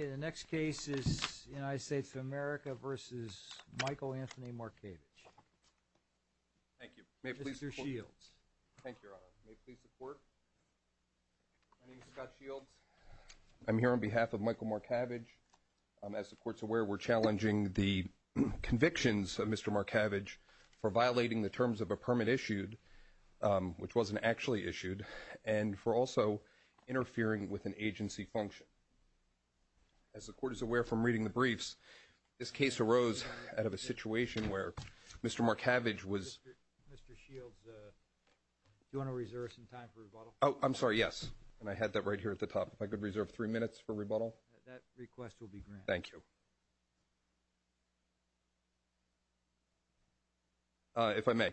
Okay, the next case is United States of America v. Michael Anthony Marcavage. Thank you. Mr. Shields. Thank you, Your Honor. May it please the Court. My name is Scott Shields. I'm here on behalf of Michael Marcavage. As the Court's aware, we're challenging the convictions of Mr. Marcavage for violating the terms of a permit issued, which wasn't actually issued, and for also interfering with an agency function. As the Court is aware from reading the briefs, this case arose out of a situation where Mr. Marcavage was Mr. Shields, do you want to reserve some time for rebuttal? Oh, I'm sorry, yes. And I had that right here at the top. If I could reserve three minutes for rebuttal. That request will be granted. Thank you. If I may,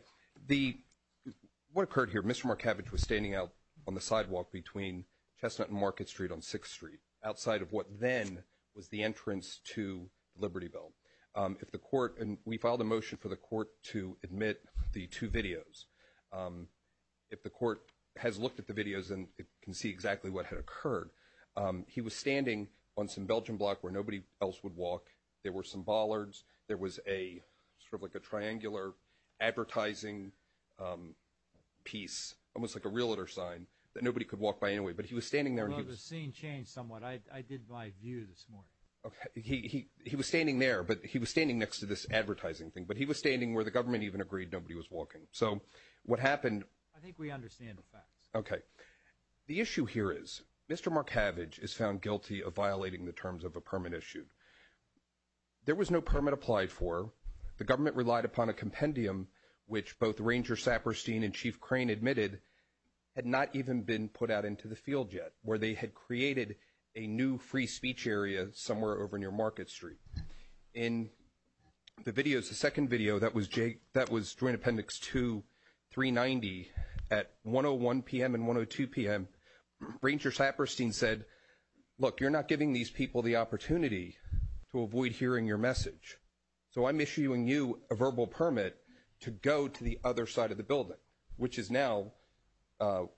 what occurred here, Mr. Marcavage was standing out on the sidewalk between Chestnut and Market Street on 6th Street, outside of what then was the entrance to the Liberty Belt. If the Court, and we filed a motion for the Court to admit the two videos, if the Court has looked at the videos and can see exactly what had occurred. He was standing on some Belgian block where nobody else would walk. There were some bollards. There was a sort of like a triangular advertising piece, almost like a realtor sign, that nobody could walk by anyway. But he was standing there. Well, the scene changed somewhat. I did my view this morning. He was standing there, but he was standing next to this advertising thing. But he was standing where the government even agreed nobody was walking. So what happened? I think we understand the facts. Okay. The issue here is Mr. Marcavage is found guilty of violating the terms of a permit issued. There was no permit applied for. The government relied upon a compendium, which both Ranger Saperstein and Chief Crane admitted had not even been put out into the field yet, where they had created a new free speech area somewhere over near Market Street. In the videos, the second video, that was Joint Appendix 2, 390, at 1.01 p.m. and 1.02 p.m., Ranger Saperstein said, look, you're not giving these people the opportunity to avoid hearing your message. So I'm issuing you a verbal permit to go to the other side of the building, which is now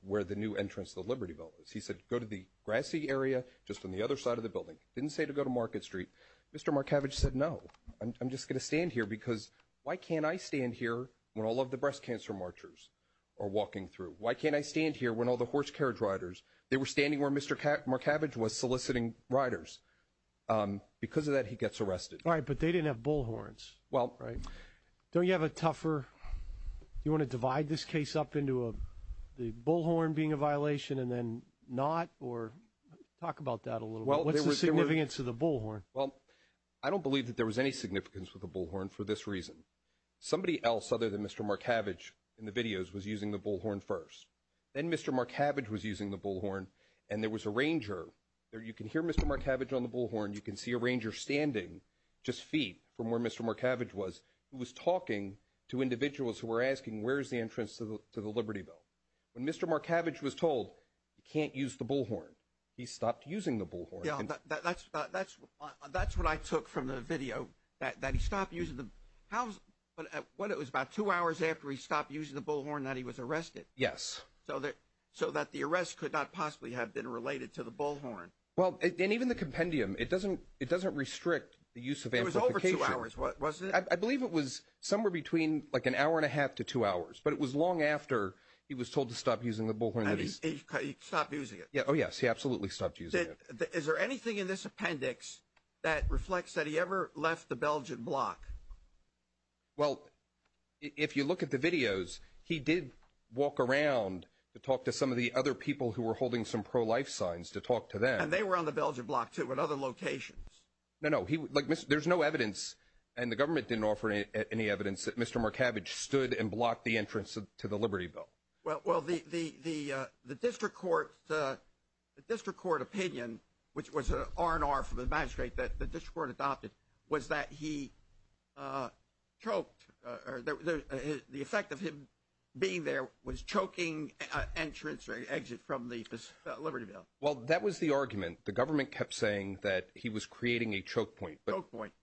where the new entrance to the Liberty Building is. He said go to the grassy area just on the other side of the building. He didn't say to go to Market Street. Mr. Marcavage said, no, I'm just going to stand here because why can't I stand here when all of the breast cancer marchers are walking through? Why can't I stand here when all the horse carriage riders, they were standing where Mr. Marcavage was soliciting riders. Because of that, he gets arrested. All right. But they didn't have bullhorns. Well. Right. Don't you have a tougher, do you want to divide this case up into the bullhorn being a violation and then not? Or talk about that a little bit. What's the significance of the bullhorn? Well, I don't believe that there was any significance with the bullhorn for this reason. Somebody else other than Mr. Marcavage in the videos was using the bullhorn first. Then Mr. Marcavage was using the bullhorn. And there was a ranger there. You can hear Mr. Marcavage on the bullhorn. You can see a ranger standing just feet from where Mr. Marcavage was, who was talking to individuals who were asking, where's the entrance to the Liberty Building? When Mr. Marcavage was told you can't use the bullhorn, he stopped using the bullhorn. Yeah, that's what I took from the video, that he stopped using the, what, it was about two hours after he stopped using the bullhorn that he was arrested? Yes. So that the arrest could not possibly have been related to the bullhorn? Well, and even the compendium, it doesn't restrict the use of amplification. It was over two hours, was it? I believe it was somewhere between like an hour and a half to two hours. But it was long after he was told to stop using the bullhorn that he stopped using it. Oh yes, he absolutely stopped using it. Is there anything in this appendix that reflects that he ever left the Belgian block? Well, if you look at the videos, he did walk around to talk to some of the other people who were holding some pro-life signs to talk to them. And they were on the Belgian block too, at other locations? No, no. Like, there's no evidence, and the government didn't offer any evidence, that Mr. Marcavage stood and blocked the entrance to the Liberty Building. Well, the district court opinion, which was an R&R from the magistrate that the district court adopted, was that he choked, or the effect of him being there was choking entrance or exit from the Liberty Building. Well, that was the argument. The government kept saying that he was creating a choke point.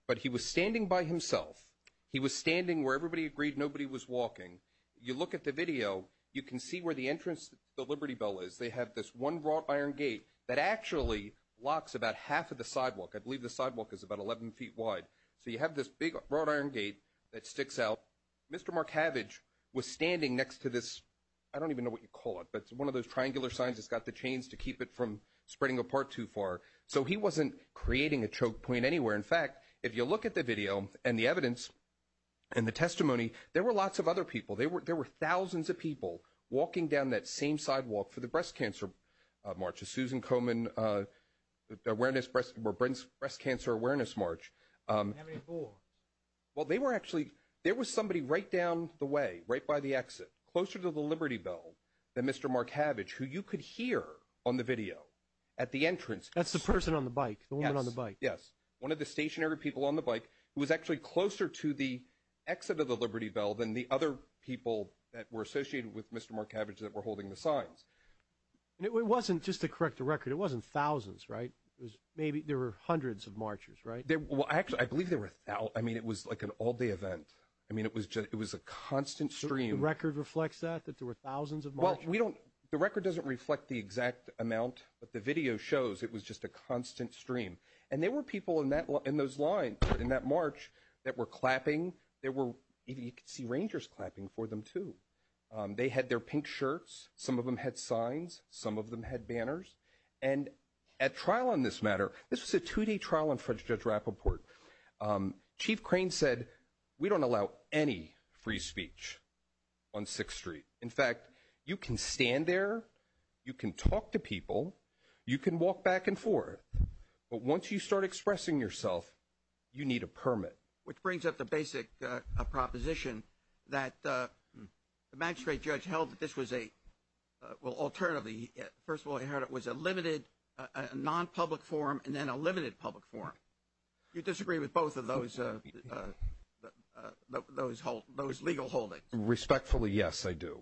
But he was standing by himself. He was standing where everybody agreed nobody was walking. You look at the video, you can see where the entrance to the Liberty Building is. They have this one wrought iron gate that actually locks about half of the sidewalk. I believe the sidewalk is about 11 feet wide. So you have this big wrought iron gate that sticks out. Mr. Marcavage was standing next to this, I don't even know what you call it, but one of those triangular signs that's got the chains to keep it from spreading apart too far. So he wasn't creating a choke point anywhere. In fact, if you look at the video, and the evidence, and the testimony, there were lots of other people. There were thousands of people walking down that same sidewalk for the Breast Cancer March, the Susan Komen Breast Cancer Awareness March. How many more? Well, they were actually, there was somebody right down the way, right by the exit, closer to the Liberty Building than Mr. Marcavage, who you could hear on the video at the entrance. That's the person on the bike, the woman on the bike. Yes. One of the stationary people on the bike who was actually closer to the exit of the Liberty Building than the other people that were associated with Mr. Marcavage that were holding the signs. And it wasn't, just to correct the record, it wasn't thousands, right? Maybe there were hundreds of marchers, right? Well, actually, I believe there were, I mean, it was like an all-day event. I mean, it was a constant stream. The record reflects that, that there were thousands of marchers? Well, the record doesn't reflect the exact amount, but the video shows it was just a constant stream. And there were people in those lines, in that march, that were clapping. There were, you could see Rangers clapping for them, too. They had their pink shirts. Some of them had signs. Some of them had banners. And at trial on this matter, this was a two-day trial on French Judge Rappaport. Chief Crane said, we don't allow any free speech on 6th Street. In fact, you can stand there, you can talk to people, you can walk back and forth, but once you start expressing yourself, you need a permit. Which brings up the basic proposition that the magistrate judge held that this was a, well, alternatively, first of all, he heard it was a limited, non-public forum, and then a limited public forum. You disagree with both of those legal holdings? Respectfully, yes, I do.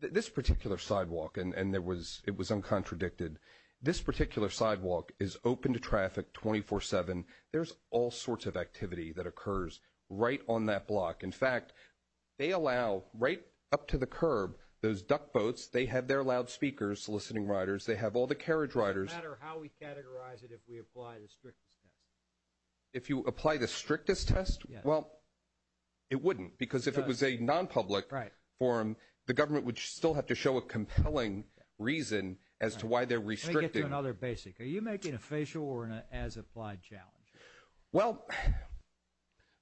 This particular sidewalk, and it was uncontradicted, this particular sidewalk is open to traffic 24-7. There's all sorts of activity that occurs right on that block. In fact, they allow, right up to the curb, those duck boats, they have their loudspeakers, listening riders, they have all the carriage riders. Does it matter how we categorize it if we apply the strictest test? If you apply the strictest test, well, it wouldn't, because if it was a non-public forum, the government would still have to show a compelling reason as to why they're restricting. Let me get to another basic. Are you making a facial or an as-applied challenge? Well,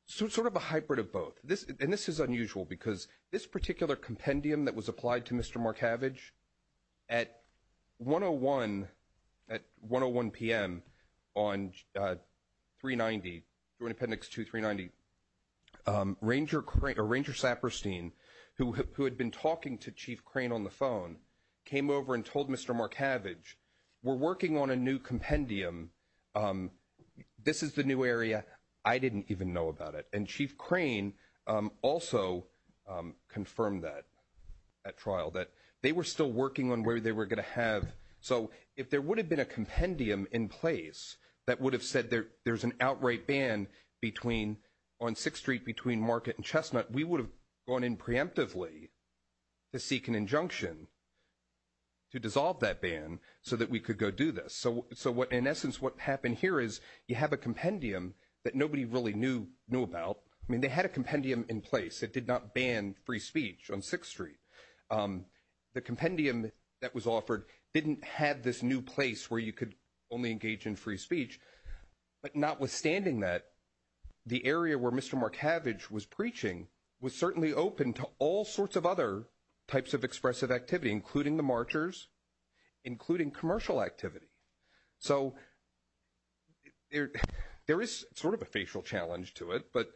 sort of a hybrid of both. This is unusual, because this particular compendium that was applied to Mr. Markavich, at 101 p.m. on 390, Joint Appendix 2, 390, Ranger Saperstein, who had been talking to Chief Crane about this new compendium, this is the new area. I didn't even know about it. And Chief Crane also confirmed that at trial, that they were still working on where they were going to have. So if there would have been a compendium in place that would have said there's an outright ban on 6th Street between Market and Chestnut, we would have gone in preemptively to seek an injunction to dissolve that ban so that we could go do this. So in essence, what happened here is you have a compendium that nobody really knew about. I mean, they had a compendium in place that did not ban free speech on 6th Street. The compendium that was offered didn't have this new place where you could only engage in free speech. But notwithstanding that, the area where Mr. Markavich was preaching was certainly open to all sorts of other types of expressive activity, including the marchers, including commercial activity. So there is sort of a facial challenge to it, but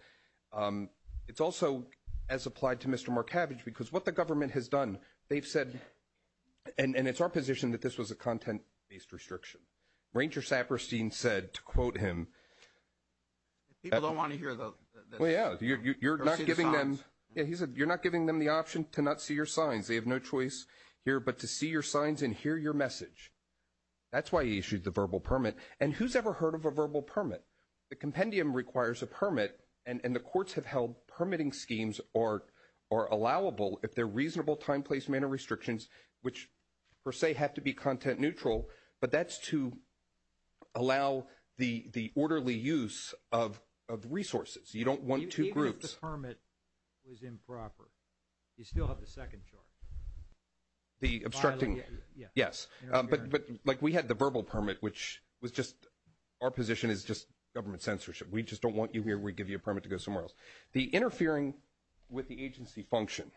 it's also as applied to Mr. Markavich because what the government has done, they've said, and it's our position that this was a content-based restriction. Ranger Saperstein said, to quote him, you're not giving them the option to not see your signs. They have no choice here but to see your signs and hear your message. That's why he issued the verbal permit. And who's ever heard of a verbal permit? The compendium requires a permit, and the courts have held permitting schemes are allowable if they're reasonable time, place, manner restrictions, which per se have to be content neutral, but that's to allow the orderly use of resources. You don't want two groups. If the verbal permit was improper, you still have the second charge. The obstructing, yes, but like we had the verbal permit, which was just our position is just government censorship. We just don't want you here. We give you a permit to go somewhere else. The interfering with the agency function.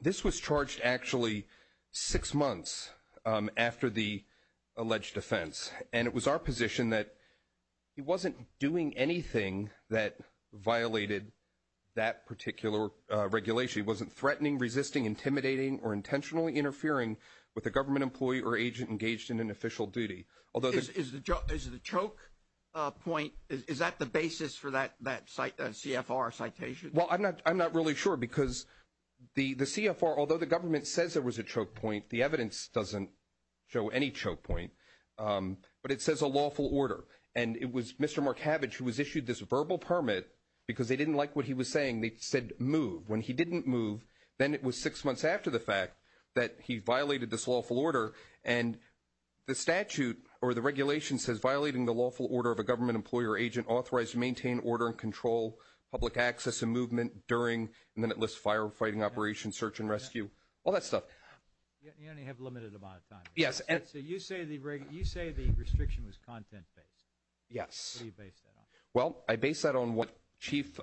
This was charged actually six months after the alleged offense. And it was our position that he wasn't doing anything that violated that particular regulation. He wasn't threatening, resisting, intimidating, or intentionally interfering with a government employee or agent engaged in an official duty. Is the choke point, is that the basis for that CFR citation? Well, I'm not really sure because the CFR, although the government says there was a choke point, the evidence doesn't show any choke point, but it says a lawful order. And it was Mr. Mark Havage who was issued this verbal permit because they didn't like what he was saying. They said move. When he didn't move, then it was six months after the fact that he violated this lawful order. And the statute or the regulation says violating the lawful order of a government employee or agent authorized to maintain order and control public access and movement during and then it lists firefighting operations, search and rescue, all that stuff. You only have a limited amount of time. Yes. So you say the restriction was content-based? Yes. What do you base that on? Well, I base that on what Chief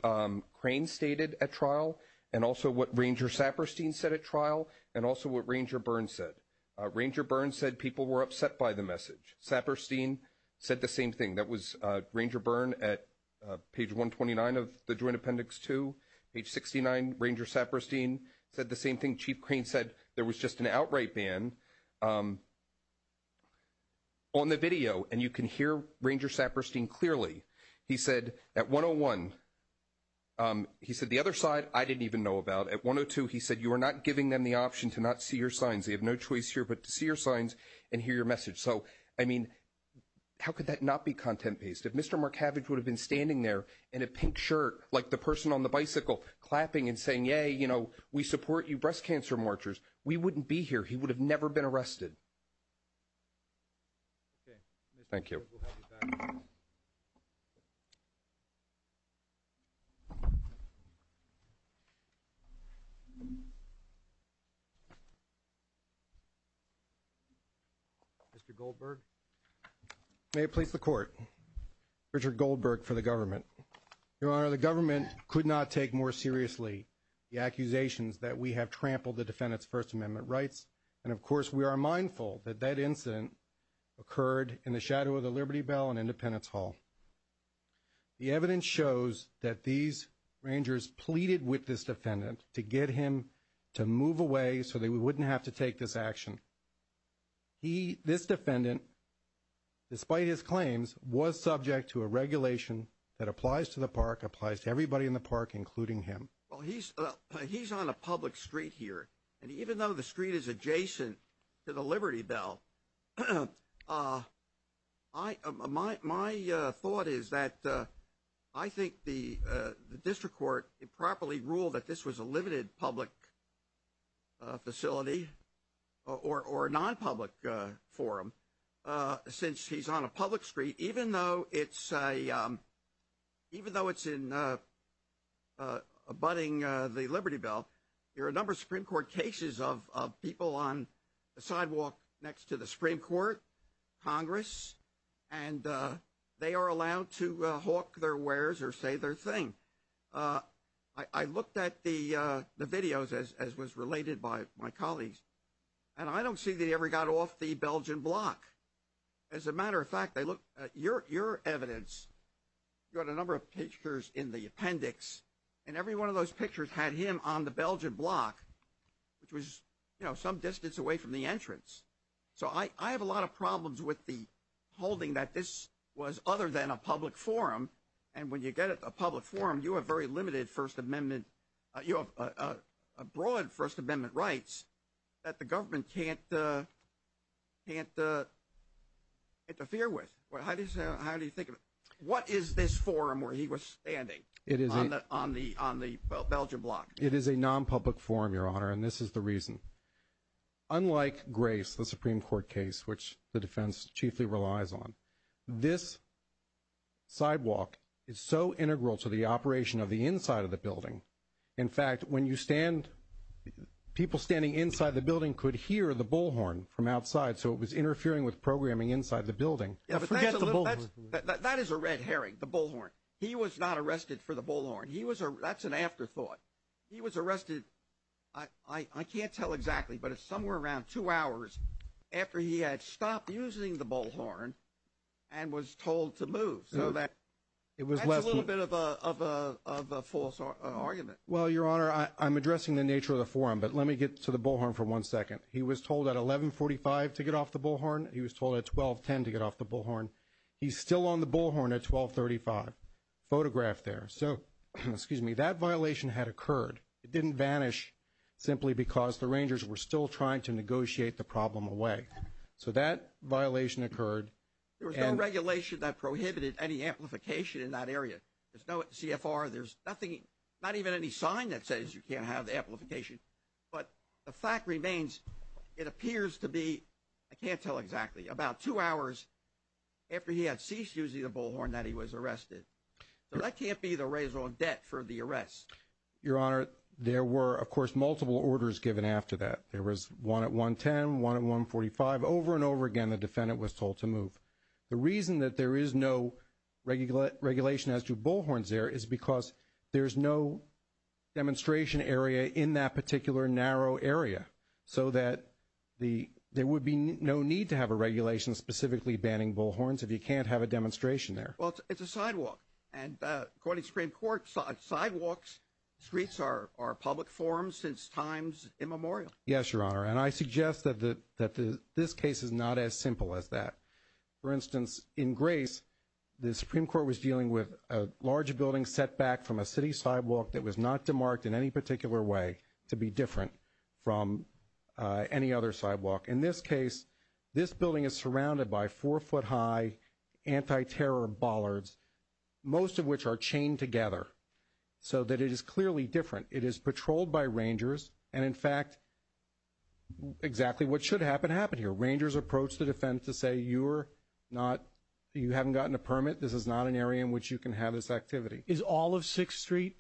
Crane stated at trial and also what Ranger Saperstein said at trial and also what Ranger Byrne said. Ranger Byrne said people were upset by the message. Saperstein said the same thing. That was Ranger Byrne at page 129 of the Joint Appendix 2, page 69, Ranger Saperstein said the same thing. Chief Crane said there was just an outright ban on the video, and you can hear Ranger Saperstein clearly. He said at 101, he said the other side, I didn't even know about. At 102, he said you are not giving them the option to not see your signs. They have no choice here but to see your signs and hear your message. So, I mean, how could that not be content-based? If Mr. Markavich would have been standing there in a pink shirt, like the person on the bicycle, clapping and saying, yay, you know, we support you breast cancer marchers, we wouldn't be here. He would have never been arrested. Okay. Thank you. We'll have you back. Mr. Goldberg, may it please the Court, Richard Goldberg for the government. Your Honor, the government could not take more seriously the accusations that we have trampled the defendant's First Amendment rights, and of course, we are mindful that that incident occurred in the shadow of the Liberty Bell and Independence Hall. The evidence shows that these rangers pleaded with this defendant to get him to move away so they wouldn't have to take this action. This defendant, despite his claims, was subject to a regulation that applies to the park, applies to everybody in the park, including him. Well, he's on a public street here, and even though the street is adjacent to the Liberty Bell, my thought is that I think the district court improperly ruled that this was a limited public facility or a non-public forum. Since he's on a public street, even though it's in abutting the Liberty Bell, there are a number of Supreme Court cases of people on the sidewalk next to the Supreme Court, Congress, and they are allowed to hawk their wares or say their thing. I looked at the videos, as was related by my colleagues, and I don't see that he ever got off the Belgian block. As a matter of fact, I looked at your evidence, you had a number of pictures in the appendix, and every one of those pictures had him on the Belgian block, which was some distance away from the entrance. So I have a lot of problems with the holding that this was other than a public forum, and when you get a public forum, you have very limited First Amendment, you have broad First Amendment rights that the government can't interfere with. How do you think of it? What is this forum where he was standing on the Belgian block? It is a non-public forum, Your Honor, and this is the reason. Unlike Grace, the Supreme Court case, which the defense chiefly relies on, this sidewalk is so integral to the operation of the inside of the building, in fact when you stand, people standing inside the building could hear the bullhorn from outside, so it was interfering with programming inside the building. That is a red herring, the bullhorn. He was not arrested for the bullhorn. That's an afterthought. He was arrested, I can't tell exactly, but it's somewhere around two hours after he had stopped using the bullhorn and was told to move, so that's a little bit of a false argument. Well Your Honor, I'm addressing the nature of the forum, but let me get to the bullhorn for one second. He was told at 11.45 to get off the bullhorn. He was told at 12.10 to get off the bullhorn. He's still on the bullhorn at 12.35, photographed there, so, excuse me, that violation had occurred. It didn't vanish simply because the Rangers were still trying to negotiate the problem away, so that violation occurred. There was no regulation that prohibited any amplification in that area. There's no CFR, there's nothing, not even any sign that says you can't have the amplification, but the fact remains it appears to be, I can't tell exactly, about two hours after he had ceased using the bullhorn that he was arrested, so that can't be the raison d'etre for the arrest. Your Honor, there were, of course, multiple orders given after that. There was one at 1.10, one at 1.45, over and over again the defendant was told to move. The reason that there is no regulation as to bullhorns there is because there's no demonstration area in that particular narrow area, so that there would be no need to have a regulation specifically banning bullhorns if you can't have a demonstration there. Well, it's a sidewalk, and according to the Supreme Court, sidewalks, streets are public forms since times immemorial. Yes, Your Honor, and I suggest that this case is not as simple as that. For instance, in Grace, the Supreme Court was dealing with a large building set back from a city sidewalk that was not demarked in any particular way to be different from any other sidewalk. In this case, this building is surrounded by four-foot-high anti-terror bollards, most of which are chained together, so that it is clearly different. It is patrolled by rangers, and in fact, exactly what should happen happened here. Rangers approached the defendant to say, you're not, you haven't gotten a permit, this is not an area in which you can have this activity. Is all of Sixth Street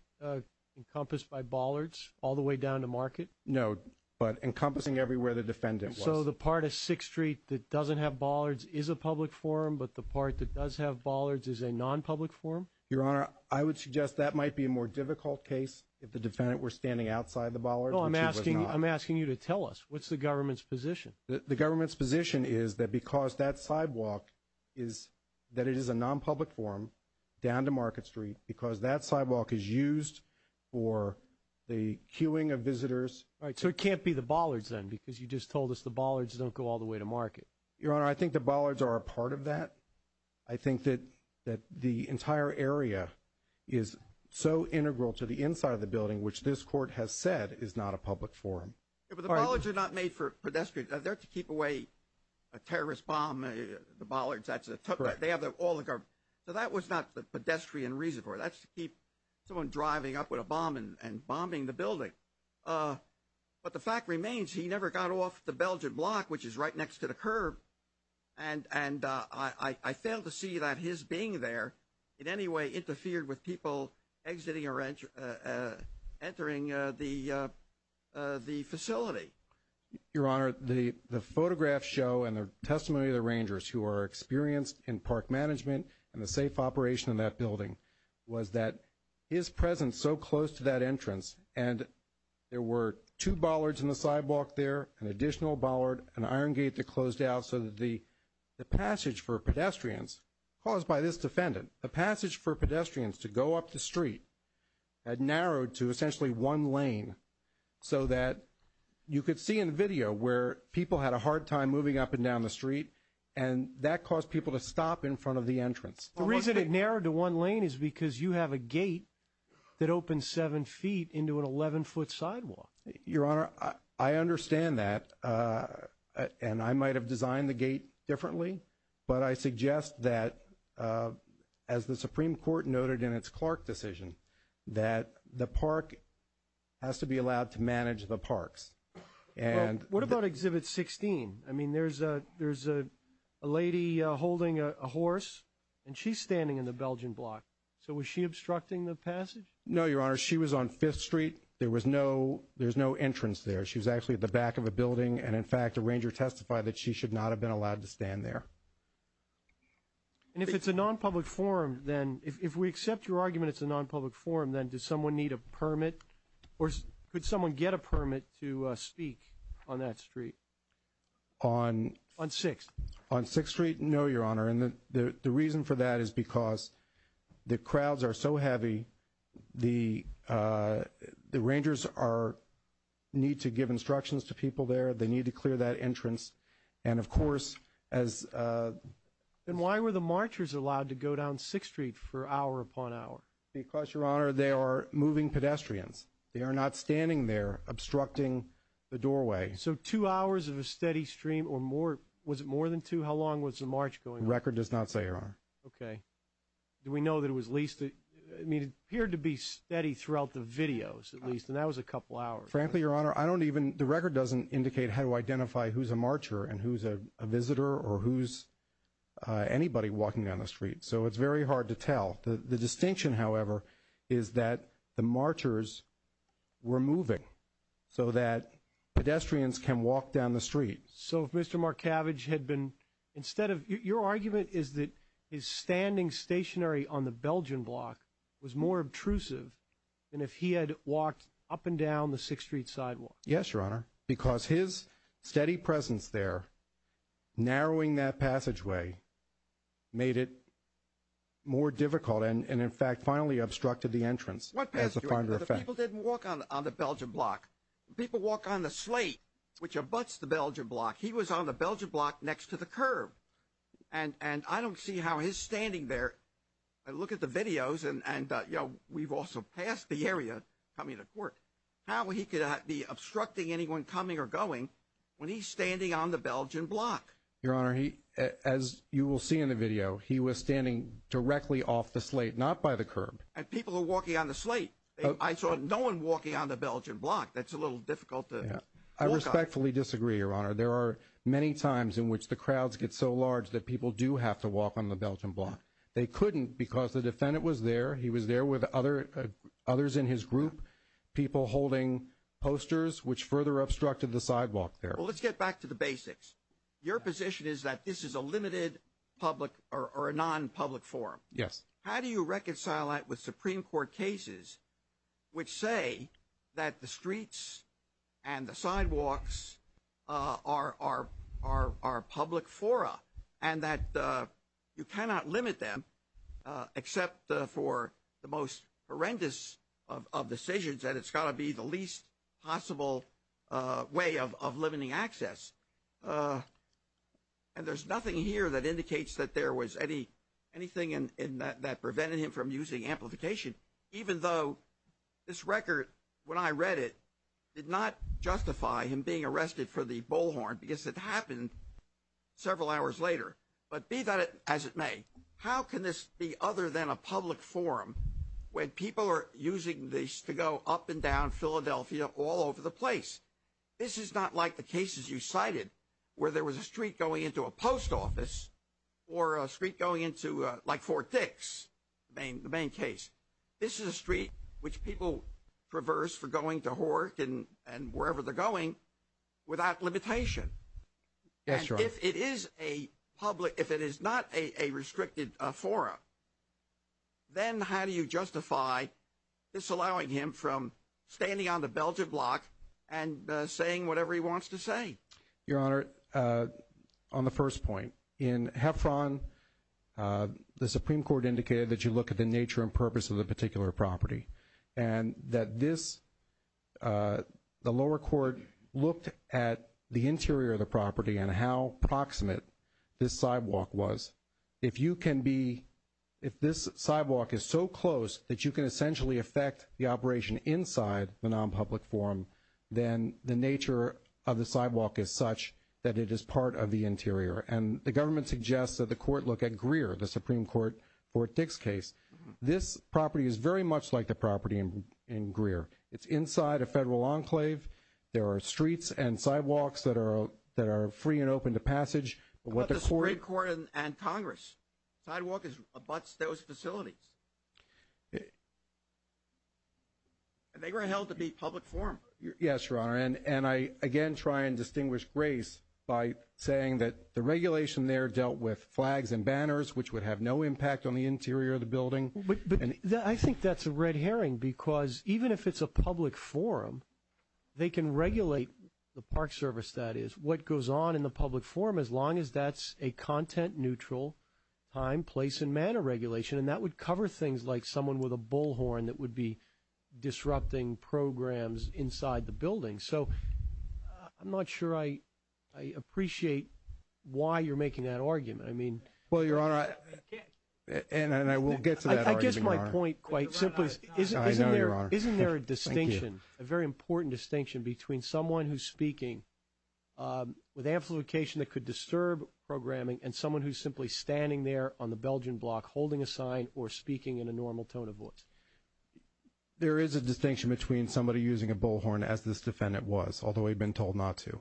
encompassed by bollards all the way down to Market? No, but encompassing everywhere the defendant was. So the part of Sixth Street that doesn't have bollards is a public forum, but the part that does have bollards is a non-public forum? Your Honor, I would suggest that might be a more difficult case if the defendant were standing outside the bollards, which he was not. I'm asking you to tell us, what's the government's position? The government's position is that because that sidewalk is, that it is a non-public forum down to Market Street, because that sidewalk is used for the queuing of visitors. All right, so it can't be the bollards then, because you just told us the bollards don't go all the way to Market. Your Honor, I think the bollards are a part of that. I think that the entire area is so integral to the inside of the building, which this court has said is not a public forum. But the bollards are not made for pedestrians. They're to keep away a terrorist bomb, the bollards, that's a, they have all the, so that was not the pedestrian reason for it, that's to keep someone driving up with a bomb and bombing the building. But the fact remains, he never got off the Belgian block, which is right next to the curb, and I fail to see that his being there in any way interfered with people exiting or entering the facility. Your Honor, the photographs show and the testimony of the rangers who are experienced in park management and the safe operation of that building was that his presence so close to that entrance, and there were two bollards in the sidewalk there, an additional bollard, an iron gate that closed out so that the passage for pedestrians caused by this defendant, the passage for pedestrians to go up the street had narrowed to essentially one lane so that you could see in the video where people had a hard time moving up and down the street, and that caused people to stop in front of the entrance. The reason it narrowed to one lane is because you have a gate that opens seven feet into an 11-foot sidewalk. Your Honor, I understand that, and I might have designed the gate differently, but I suggest that, as the Supreme Court noted in its Clark decision, that the park has to be allowed to manage the parks. Well, what about Exhibit 16? I mean, there's a lady holding a horse, and she's standing in the Belgian block. So was she obstructing the passage? No, Your Honor. She was on Fifth Street. There was no entrance there. She was actually at the back of a building, and, in fact, a ranger testified that she should not have been allowed to stand there. And if it's a nonpublic forum, then, if we accept your argument it's a nonpublic forum, then does someone need a permit, or could someone get a permit to speak on that street? On Sixth. On Sixth Street? No, Your Honor. And the reason for that is because the crowds are so heavy, the rangers need to give instructions to people there. They need to clear that entrance. And, of course, as— Then why were the marchers allowed to go down Sixth Street for hour upon hour? Because, Your Honor, they are moving pedestrians. They are not standing there obstructing the doorway. So two hours of a steady stream, or more—was it more than two? How long was the march going on? Record does not say, Your Honor. Okay. Do we know that it was at least—I mean, it appeared to be steady throughout the videos, at least, and that was a couple hours. Frankly, Your Honor, I don't even—the record doesn't indicate how to identify who's a marcher and who's a visitor or who's anybody walking down the street. So it's very hard to tell. The distinction, however, is that the marchers were moving so that pedestrians can walk down the street. So if Mr. Markavich had been—instead of—your argument is that his standing stationary on the Belgian block was more obtrusive than if he had walked up and down the Sixth Street sidewalk. Yes, Your Honor. Because his steady presence there, narrowing that passageway, made it more difficult and, in fact, finally obstructed the entrance, as a final effect. People didn't walk on the Belgian block. People walk on the slate, which abuts the Belgian block. He was on the Belgian block next to the curb. And I don't see how his standing there—I look at the videos and, you know, we've also passed the area coming to court—how he could be obstructing anyone coming or going when he's standing on the Belgian block. Your Honor, as you will see in the video, he was standing directly off the slate, not by the curb. And people are walking on the slate. I saw no one walking on the Belgian block. That's a little difficult to walk on. I respectfully disagree, Your Honor. There are many times in which the crowds get so large that people do have to walk on the Belgian block. They couldn't because the defendant was there. He was there with others in his group, people holding posters, which further obstructed the sidewalk there. Well, let's get back to the basics. Your position is that this is a limited public or a non-public forum. Yes. How do you reconcile that with Supreme Court cases which say that the streets and the sidewalks are public fora and that you cannot limit them, except for the most horrendous of decisions, that it's got to be the least possible way of limiting access? And there's nothing here that indicates that there was anything that prevented him from using amplification, even though this record, when I read it, did not justify him being arrested for the bullhorn because it happened several hours later. But be that as it may, how can this be other than a public forum when people are using this to go up and down Philadelphia all over the place? This is not like the cases you cited where there was a street going into a post office or a street going into like Fort Dix, the main case. This is a street which people traverse for going to work and wherever they're going without limitation. That's right. If it is a public, if it is not a restricted forum, then how do you justify disallowing him from standing on the Belgian block and saying whatever he wants to say? Your Honor, on the first point, in Heffron, the Supreme Court indicated that you look at the nature and purpose of the particular property and that this, the lower court looked at the interior of the property and how proximate this sidewalk was. If you can be, if this sidewalk is so close that you can essentially affect the operation inside the nonpublic forum, then the nature of the sidewalk is such that it is part of the interior. And the government suggests that the court look at Greer, the Supreme Court, Fort Dix case. This property is very much like the property in Greer. It's inside a federal enclave. There are streets and sidewalks that are free and open to passage. But the Supreme Court and Congress sidewalk abuts those facilities. And they were held to be public forum. Yes, Your Honor, and I again try and distinguish grace by saying that the regulation there dealt with flags and banners, which would have no impact on the interior of the building. I think that's a red herring because even if it's a public forum, they can regulate the park service that is. What goes on in the public forum, as long as that's a content neutral time, place, and manner regulation, and that would cover things like someone with a bullhorn that would disrupting programs inside the building. So I'm not sure I appreciate why you're making that argument. I mean, well, Your Honor, and I will get to that. I guess my point quite simply is, isn't there a distinction, a very important distinction between someone who's speaking with amplification that could disturb programming and someone who's simply standing there on the Belgian block holding a sign or speaking in a normal tone of voice? There is a distinction between somebody using a bullhorn, as this defendant was, although he'd been told not to.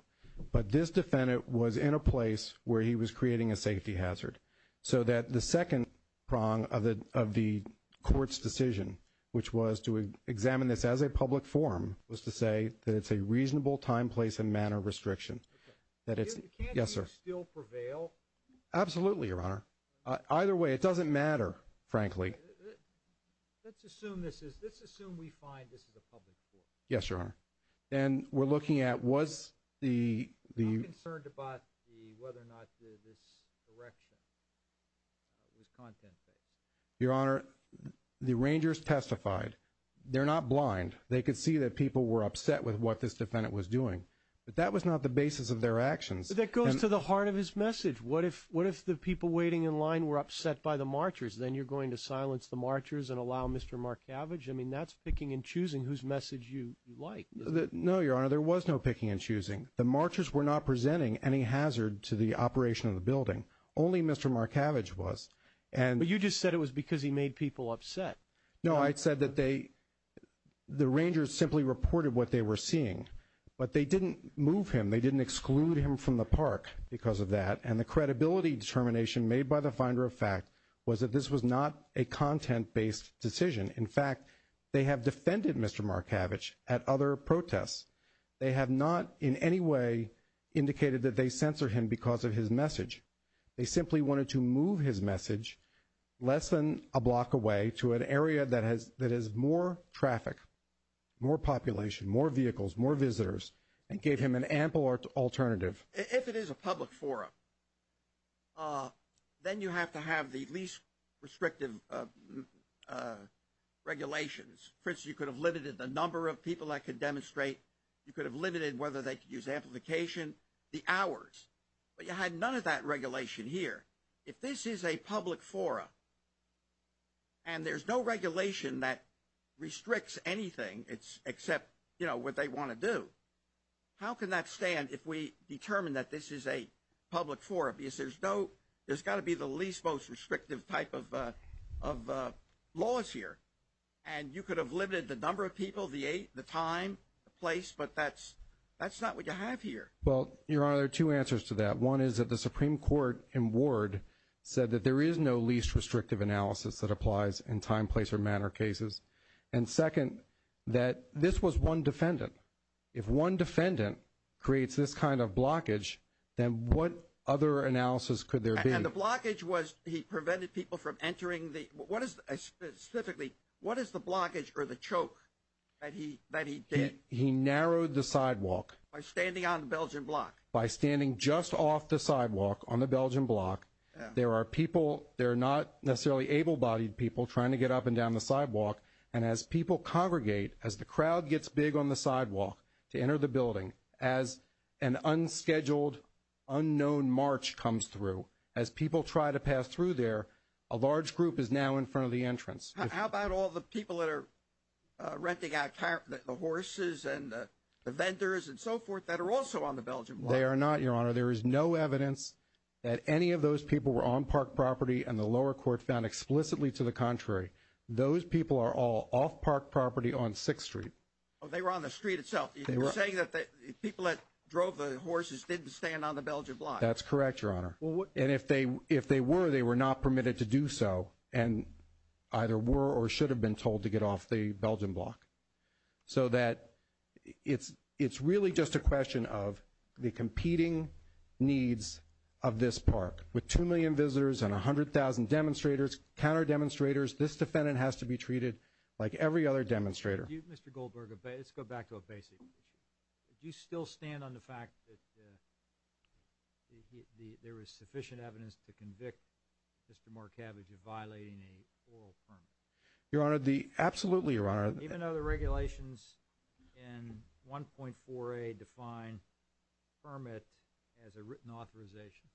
But this defendant was in a place where he was creating a safety hazard, so that the second prong of the court's decision, which was to examine this as a public forum, was to say that it's a reasonable time, place, and manner restriction. Can't you still prevail? Absolutely, Your Honor. Either way, it doesn't matter, frankly. Let's assume this is, let's assume we find this is a public forum. Yes, Your Honor. And we're looking at, was the... I'm concerned about whether or not this erection was content-based. Your Honor, the rangers testified. They're not blind. They could see that people were upset with what this defendant was doing. But that was not the basis of their actions. That goes to the heart of his message. What if the people waiting in line were upset by the marchers? Then you're going to silence the marchers and allow Mr. Markavich? I mean, that's picking and choosing whose message you like, isn't it? No, Your Honor. There was no picking and choosing. The marchers were not presenting any hazard to the operation of the building. Only Mr. Markavich was. But you just said it was because he made people upset. No, I said that they, the rangers simply reported what they were seeing. But they didn't move him. They didn't exclude him from the park because of that. And the credibility determination made by the finder of fact was that this was not a content-based decision. In fact, they have defended Mr. Markavich at other protests. They have not in any way indicated that they censored him because of his message. They simply wanted to move his message less than a block away to an area that has more traffic, more population, more vehicles, more visitors, and gave him an ample alternative. If it is a public forum, then you have to have the least restrictive regulations. For instance, you could have limited the number of people that could demonstrate. You could have limited whether they could use amplification, the hours. But you had none of that regulation here. If this is a public forum and there's no regulation that restricts anything except, you know, what they want to do, how can that stand if we determine that this is a public forum? Because there's got to be the least most restrictive type of laws here. And you could have limited the number of people, the time, the place, but that's not what you have here. Well, Your Honor, there are two answers to that. One is that the Supreme Court in Ward said that there is no least restrictive analysis that applies in time, place, or matter cases. And second, that this was one defendant. If one defendant creates this kind of blockage, then what other analysis could there be? And the blockage was he prevented people from entering the, what is specifically, what is the blockage or the choke that he did? He narrowed the sidewalk. By standing on the Belgian block. By standing just off the sidewalk on the Belgian block. There are people, they're not necessarily able-bodied people trying to get up and down the sidewalk. And as people congregate, as the crowd gets big on the sidewalk to enter the building, as an unscheduled, unknown march comes through, as people try to pass through there, a large group is now in front of the entrance. How about all the people that are renting out the horses and the vendors and so forth that are also on the Belgian block? They are not, Your Honor. There is no evidence that any of those people were on park property and the lower court found explicitly to the contrary. Those people are all off park property on 6th Street. Oh, they were on the street itself. You're saying that the people that drove the horses didn't stand on the Belgian block. That's correct, Your Honor. And if they were, they were not permitted to do so. And either were or should have been told to get off the Belgian block. So that it's really just a question of the competing needs of this park. With 2 million visitors and 100,000 demonstrators, counter demonstrators, this defendant has to be treated like every other demonstrator. Mr. Goldberg, let's go back to a basic issue. Do you still stand on the fact that there is sufficient evidence to convict Mr. Marcavage of violating an oral permit? Your Honor, absolutely, Your Honor. Even though the regulations in 1.4a define permit as a written authorization?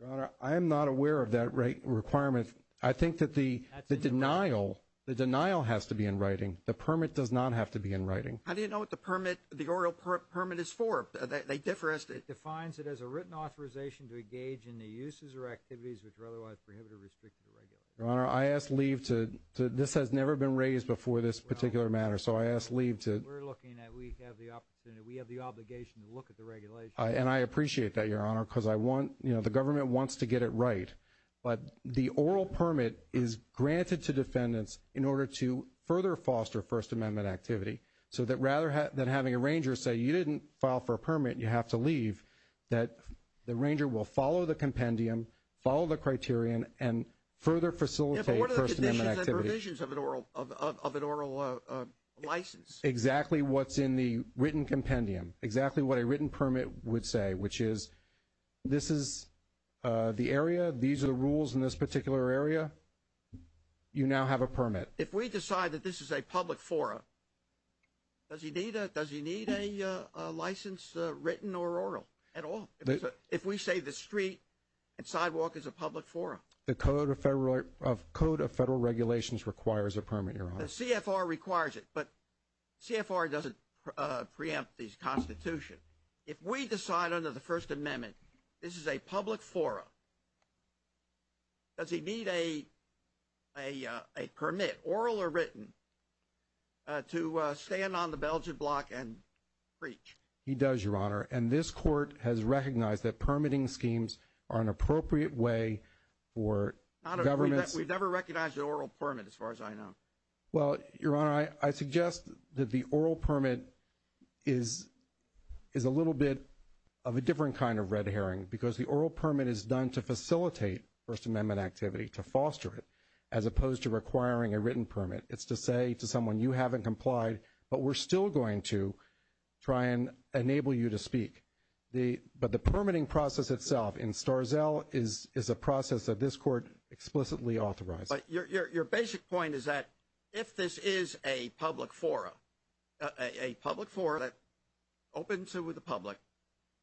Your Honor, I am not aware of that requirement. I think that the denial, the denial has to be in writing. The permit does not have to be in writing. How do you know what the permit, the oral permit is for? They differ as to... It defines it as a written authorization to engage in the uses or activities which are otherwise prohibited, restricted, or regulated. Your Honor, I ask leave to, this has never been raised before this particular matter. So I ask leave to... We're looking at, we have the opportunity, we have the obligation to look at the regulations. And I appreciate that, Your Honor, because I want, you know, the government wants to get it right. But the oral permit is granted to defendants in order to further foster First Amendment activity. So that rather than having a ranger say, you didn't file for a permit, you have to leave, that the ranger will follow the compendium, follow the criterion, and further facilitate First Amendment activity. Yeah, but what are the conditions and provisions of an oral license? Exactly what's in the written compendium, exactly what a written permit would say, which is, this is the area, these are the rules in this particular area. You now have a permit. If we decide that this is a public forum, does he need a license written or oral at all? If we say the street and sidewalk is a public forum? The Code of Federal Regulations requires a permit, Your Honor. The CFR requires it, but CFR doesn't preempt these constitution. If we decide under the First Amendment, this is a public forum, does he need a permit, oral or written, to stand on the Belgian block and preach? He does, Your Honor. And this Court has recognized that permitting schemes are an appropriate way for governments. We've never recognized an oral permit, as far as I know. Well, Your Honor, I suggest that the oral permit is a little bit of a different kind of red herring, because the oral permit is done to facilitate First Amendment activity, to foster it, as opposed to requiring a written permit. It's to say to someone, you haven't complied, but we're still going to try and enable you to speak. But the permitting process itself in Starzell is a process that this Court explicitly authorized. Your basic point is that if this is a public forum, a public forum that opens to the public,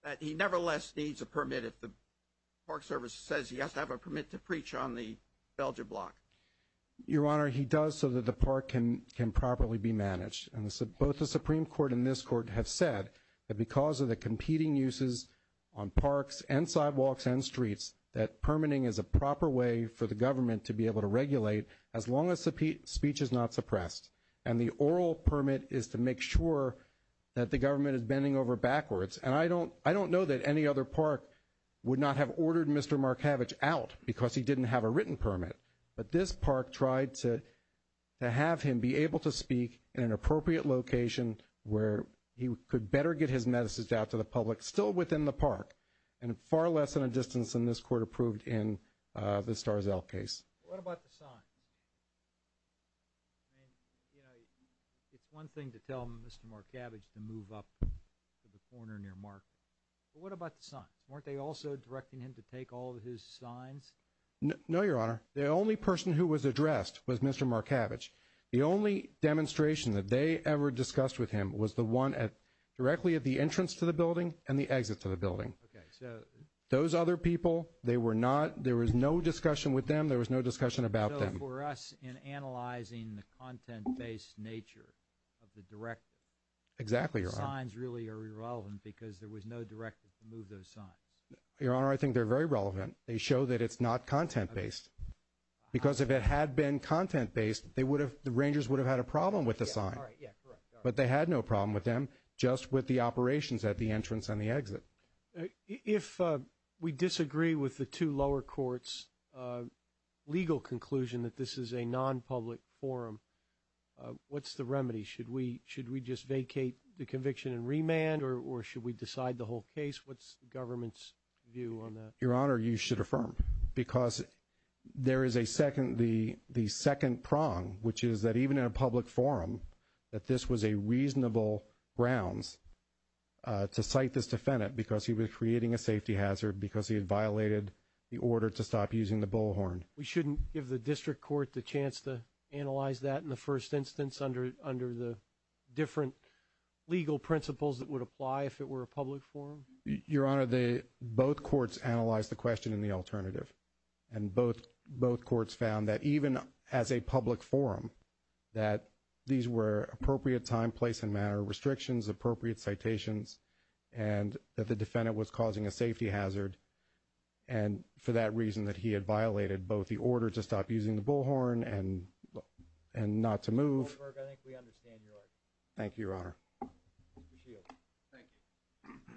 that he nevertheless needs a permit if the Park Service says he has to have a permit to preach on the Belgian block. Your Honor, he does so that the park can properly be managed. And both the Supreme Court and this Court have said that because of the competing uses on parks and sidewalks and streets, that permitting is a proper way for the Park Service to regulate as long as speech is not suppressed. And the oral permit is to make sure that the government is bending over backwards. And I don't know that any other park would not have ordered Mr. Markavich out because he didn't have a written permit. But this park tried to have him be able to speak in an appropriate location where he could better get his message out to the public, still within the park, and far less than a distance than this Court approved in the Starzell case. What about the signs? I mean, you know, it's one thing to tell Mr. Markavich to move up to the corner near Mark, but what about the signs? Weren't they also directing him to take all of his signs? No, Your Honor. The only person who was addressed was Mr. Markavich. The only demonstration that they ever discussed with him was the one directly at the entrance to the building and the exit to the building. Okay, so... Those other people, they were not, there was no discussion with them. There was no discussion about them. So for us, in analyzing the content-based nature of the directive... Exactly, Your Honor. ...the signs really are irrelevant because there was no directive to move those signs. Your Honor, I think they're very relevant. They show that it's not content-based. Because if it had been content-based, they would have, the Rangers would have had a problem with the sign. All right, yeah, correct. But they had no problem with them, just with the operations at the entrance and the exit. If we disagree with the two lower courts' legal conclusion that this is a non-public forum, what's the remedy? Should we just vacate the conviction and remand, or should we decide the whole case? What's the government's view on that? Your Honor, you should affirm. Because there is a second, the second prong, which is that even in a public forum, that this was a reasonable grounds to cite this defendant because he was creating a safety hazard, because he had violated the order to stop using the bullhorn. We shouldn't give the district court the chance to analyze that in the first instance under the different legal principles that would apply if it were a public forum? Your Honor, both courts analyzed the question in the alternative. And both courts found that even as a public forum, that these were appropriate time, place, and manner restrictions, appropriate citations, and that the defendant was causing a safety hazard. And for that reason that he had violated both the order to stop using the bullhorn and not to move. Mr. Goldberg, I think we understand your argument. Thank you, Your Honor. Mr. McShield, thank you.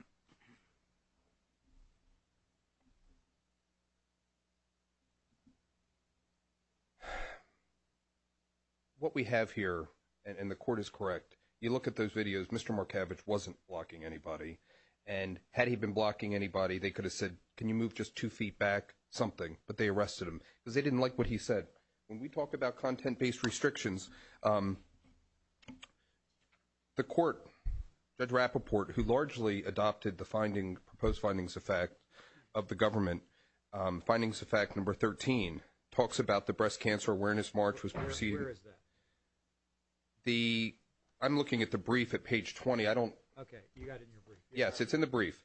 What we have here, and the court is correct, you look at those videos, Mr. Markavich wasn't blocking anybody. And had he been blocking anybody, they could have said, can you move just two feet back something? But they arrested him because they didn't like what he said. When we talk about content-based restrictions, the court, Judge Rappaport, who largely adopted the proposed findings of fact of the government, findings of fact number 13, talks about the Breast Cancer Awareness March was proceeded. Where is that? I'm looking at the brief at page 20, I don't... Okay, you got it in your brief. Yes, it's in the brief.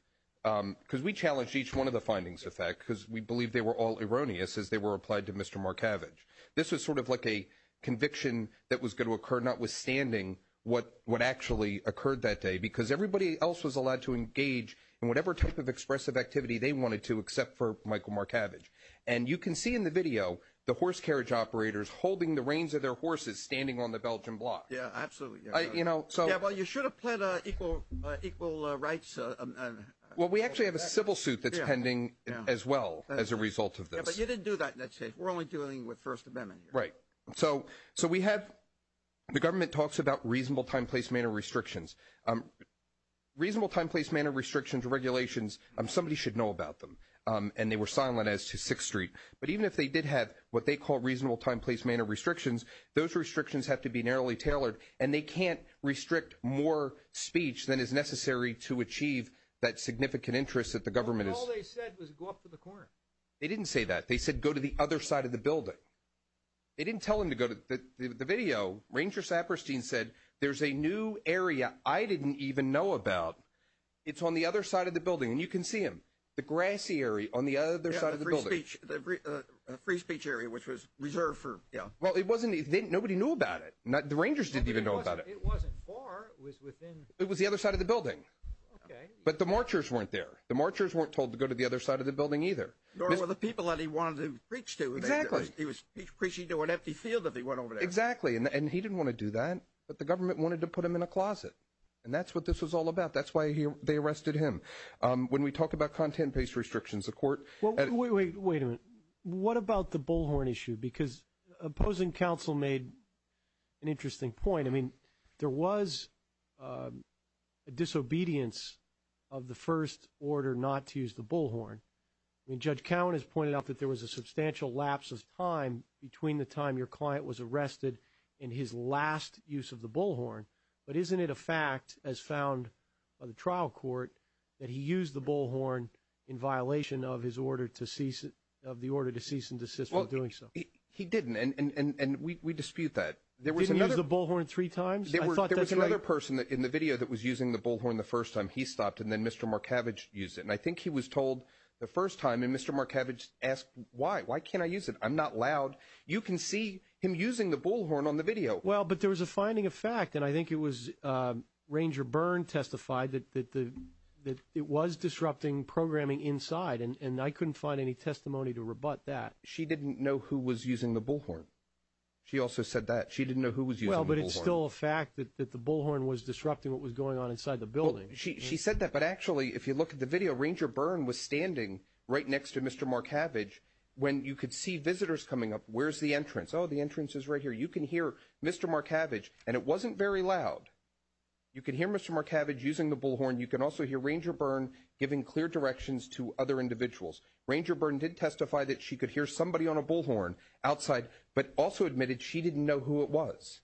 Because we challenged each one of the findings of fact, because we believe they were all erroneous as they were applied to Mr. Markavich. This was sort of like a conviction that was going to occur, notwithstanding what actually occurred that day. Because everybody else was allowed to engage in whatever type of expressive activity they wanted to, except for Michael Markavich. And you can see in the video, the horse carriage operators holding the reins of their horses standing on the Belgian block. Yeah, absolutely. Yeah, well, you should have pled equal rights. Well, we actually have a civil suit that's pending as well as a result of this. Yeah, but you didn't do that in that case. We're only dealing with First Amendment here. Right, so we have... The government talks about reasonable time, place, manner restrictions. Reasonable time, place, manner restrictions regulations, somebody should know about them. And they were silent as to Sixth Street. But even if they did have what they call reasonable time, place, manner restrictions, those restrictions have to be narrowly tailored. And they can't restrict more speech than is necessary to achieve that significant interest that the government is... All they said was go up to the corner. They didn't say that. They said, go to the other side of the building. They didn't tell him to go to the video. Ranger Saperstein said, there's a new area I didn't even know about. It's on the other side of the building. And you can see him, the grassy area on the other side of the building. The free speech area, which was reserved for... Yeah. Well, it wasn't... Nobody knew about it. The Rangers didn't even know about it. It wasn't far, it was within... It was the other side of the building. But the marchers weren't there. The marchers weren't told to go to the other side of the building either. Nor were the people that he wanted to preach to. Exactly. He was preaching to an empty field if he went over there. Exactly. And he didn't want to do that. But the government wanted to put him in a closet. And that's what this was all about. That's why they arrested him. When we talk about content-based restrictions, the court... Well, wait a minute. What about the bullhorn issue? Because opposing counsel made an interesting point. I mean, there was a disobedience of the first order not to use the bullhorn. I mean, Judge Cowan has pointed out that there was a substantial lapse of time between the time your client was arrested and his last use of the bullhorn. But isn't it a fact, as found by the trial court, that he used the bullhorn in violation of the order to cease and desist while doing so? He didn't. And we dispute that. Didn't he use the bullhorn three times? There was another person in the video that was using the bullhorn the first time. He stopped and then Mr. Markavich used it. And I think he was told the first time and Mr. Markavich asked, why? Why can't I use it? I'm not loud. You can see him using the bullhorn on the video. Well, but there was a finding of fact. And I think it was Ranger Byrne testified that it was disrupting programming inside. And I couldn't find any testimony to rebut that. She didn't know who was using the bullhorn. She also said that. She didn't know who was using the bullhorn. Well, but it's still a fact that the bullhorn was disrupting what was going on inside the building. She said that. But actually, if you look at the video, Ranger Byrne was standing right next to Mr. Markavich when you could see visitors coming up. Where's the entrance? Oh, the entrance is right here. You can hear Mr. Markavich. And it wasn't very loud. You can hear Mr. Markavich using the bullhorn. You can also hear Ranger Byrne giving clear directions to other individuals. Ranger Byrne did testify that she could hear somebody on a bullhorn outside, but also admitted she didn't know who it was.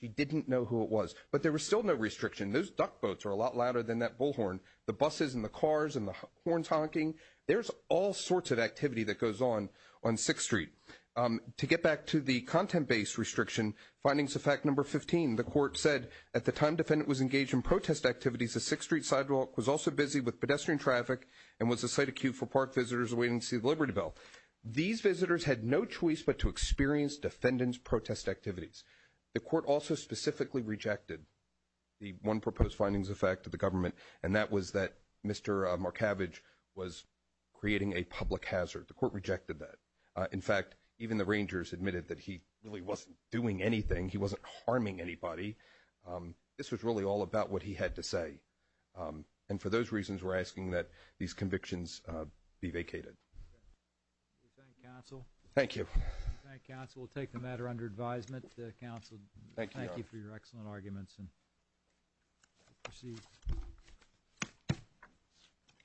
She didn't know who it was. But there was still no restriction. Those duck boats are a lot louder than that bullhorn. The buses and the cars and the horns honking. There's all sorts of activity that goes on on 6th Street. To get back to the content-based restriction, findings of fact number 15. The court said, at the time defendant was engaged in protest activities, the 6th Street sidewalk was also busy with pedestrian traffic and was a site of queue for park visitors awaiting to see the Liberty Bell. These visitors had no choice but to experience defendant's protest activities. The court also specifically rejected the one proposed findings of fact of the government. And that was that Mr. Markavich was creating a public hazard. The court rejected that. In fact, even the Rangers admitted that he really wasn't doing anything. He wasn't harming anybody. This was really all about what he had to say. And for those reasons, we're asking that these convictions be vacated. Okay. We thank counsel. Thank you. We thank counsel. We'll take the matter under advisement. Counsel, thank you for your excellent arguments.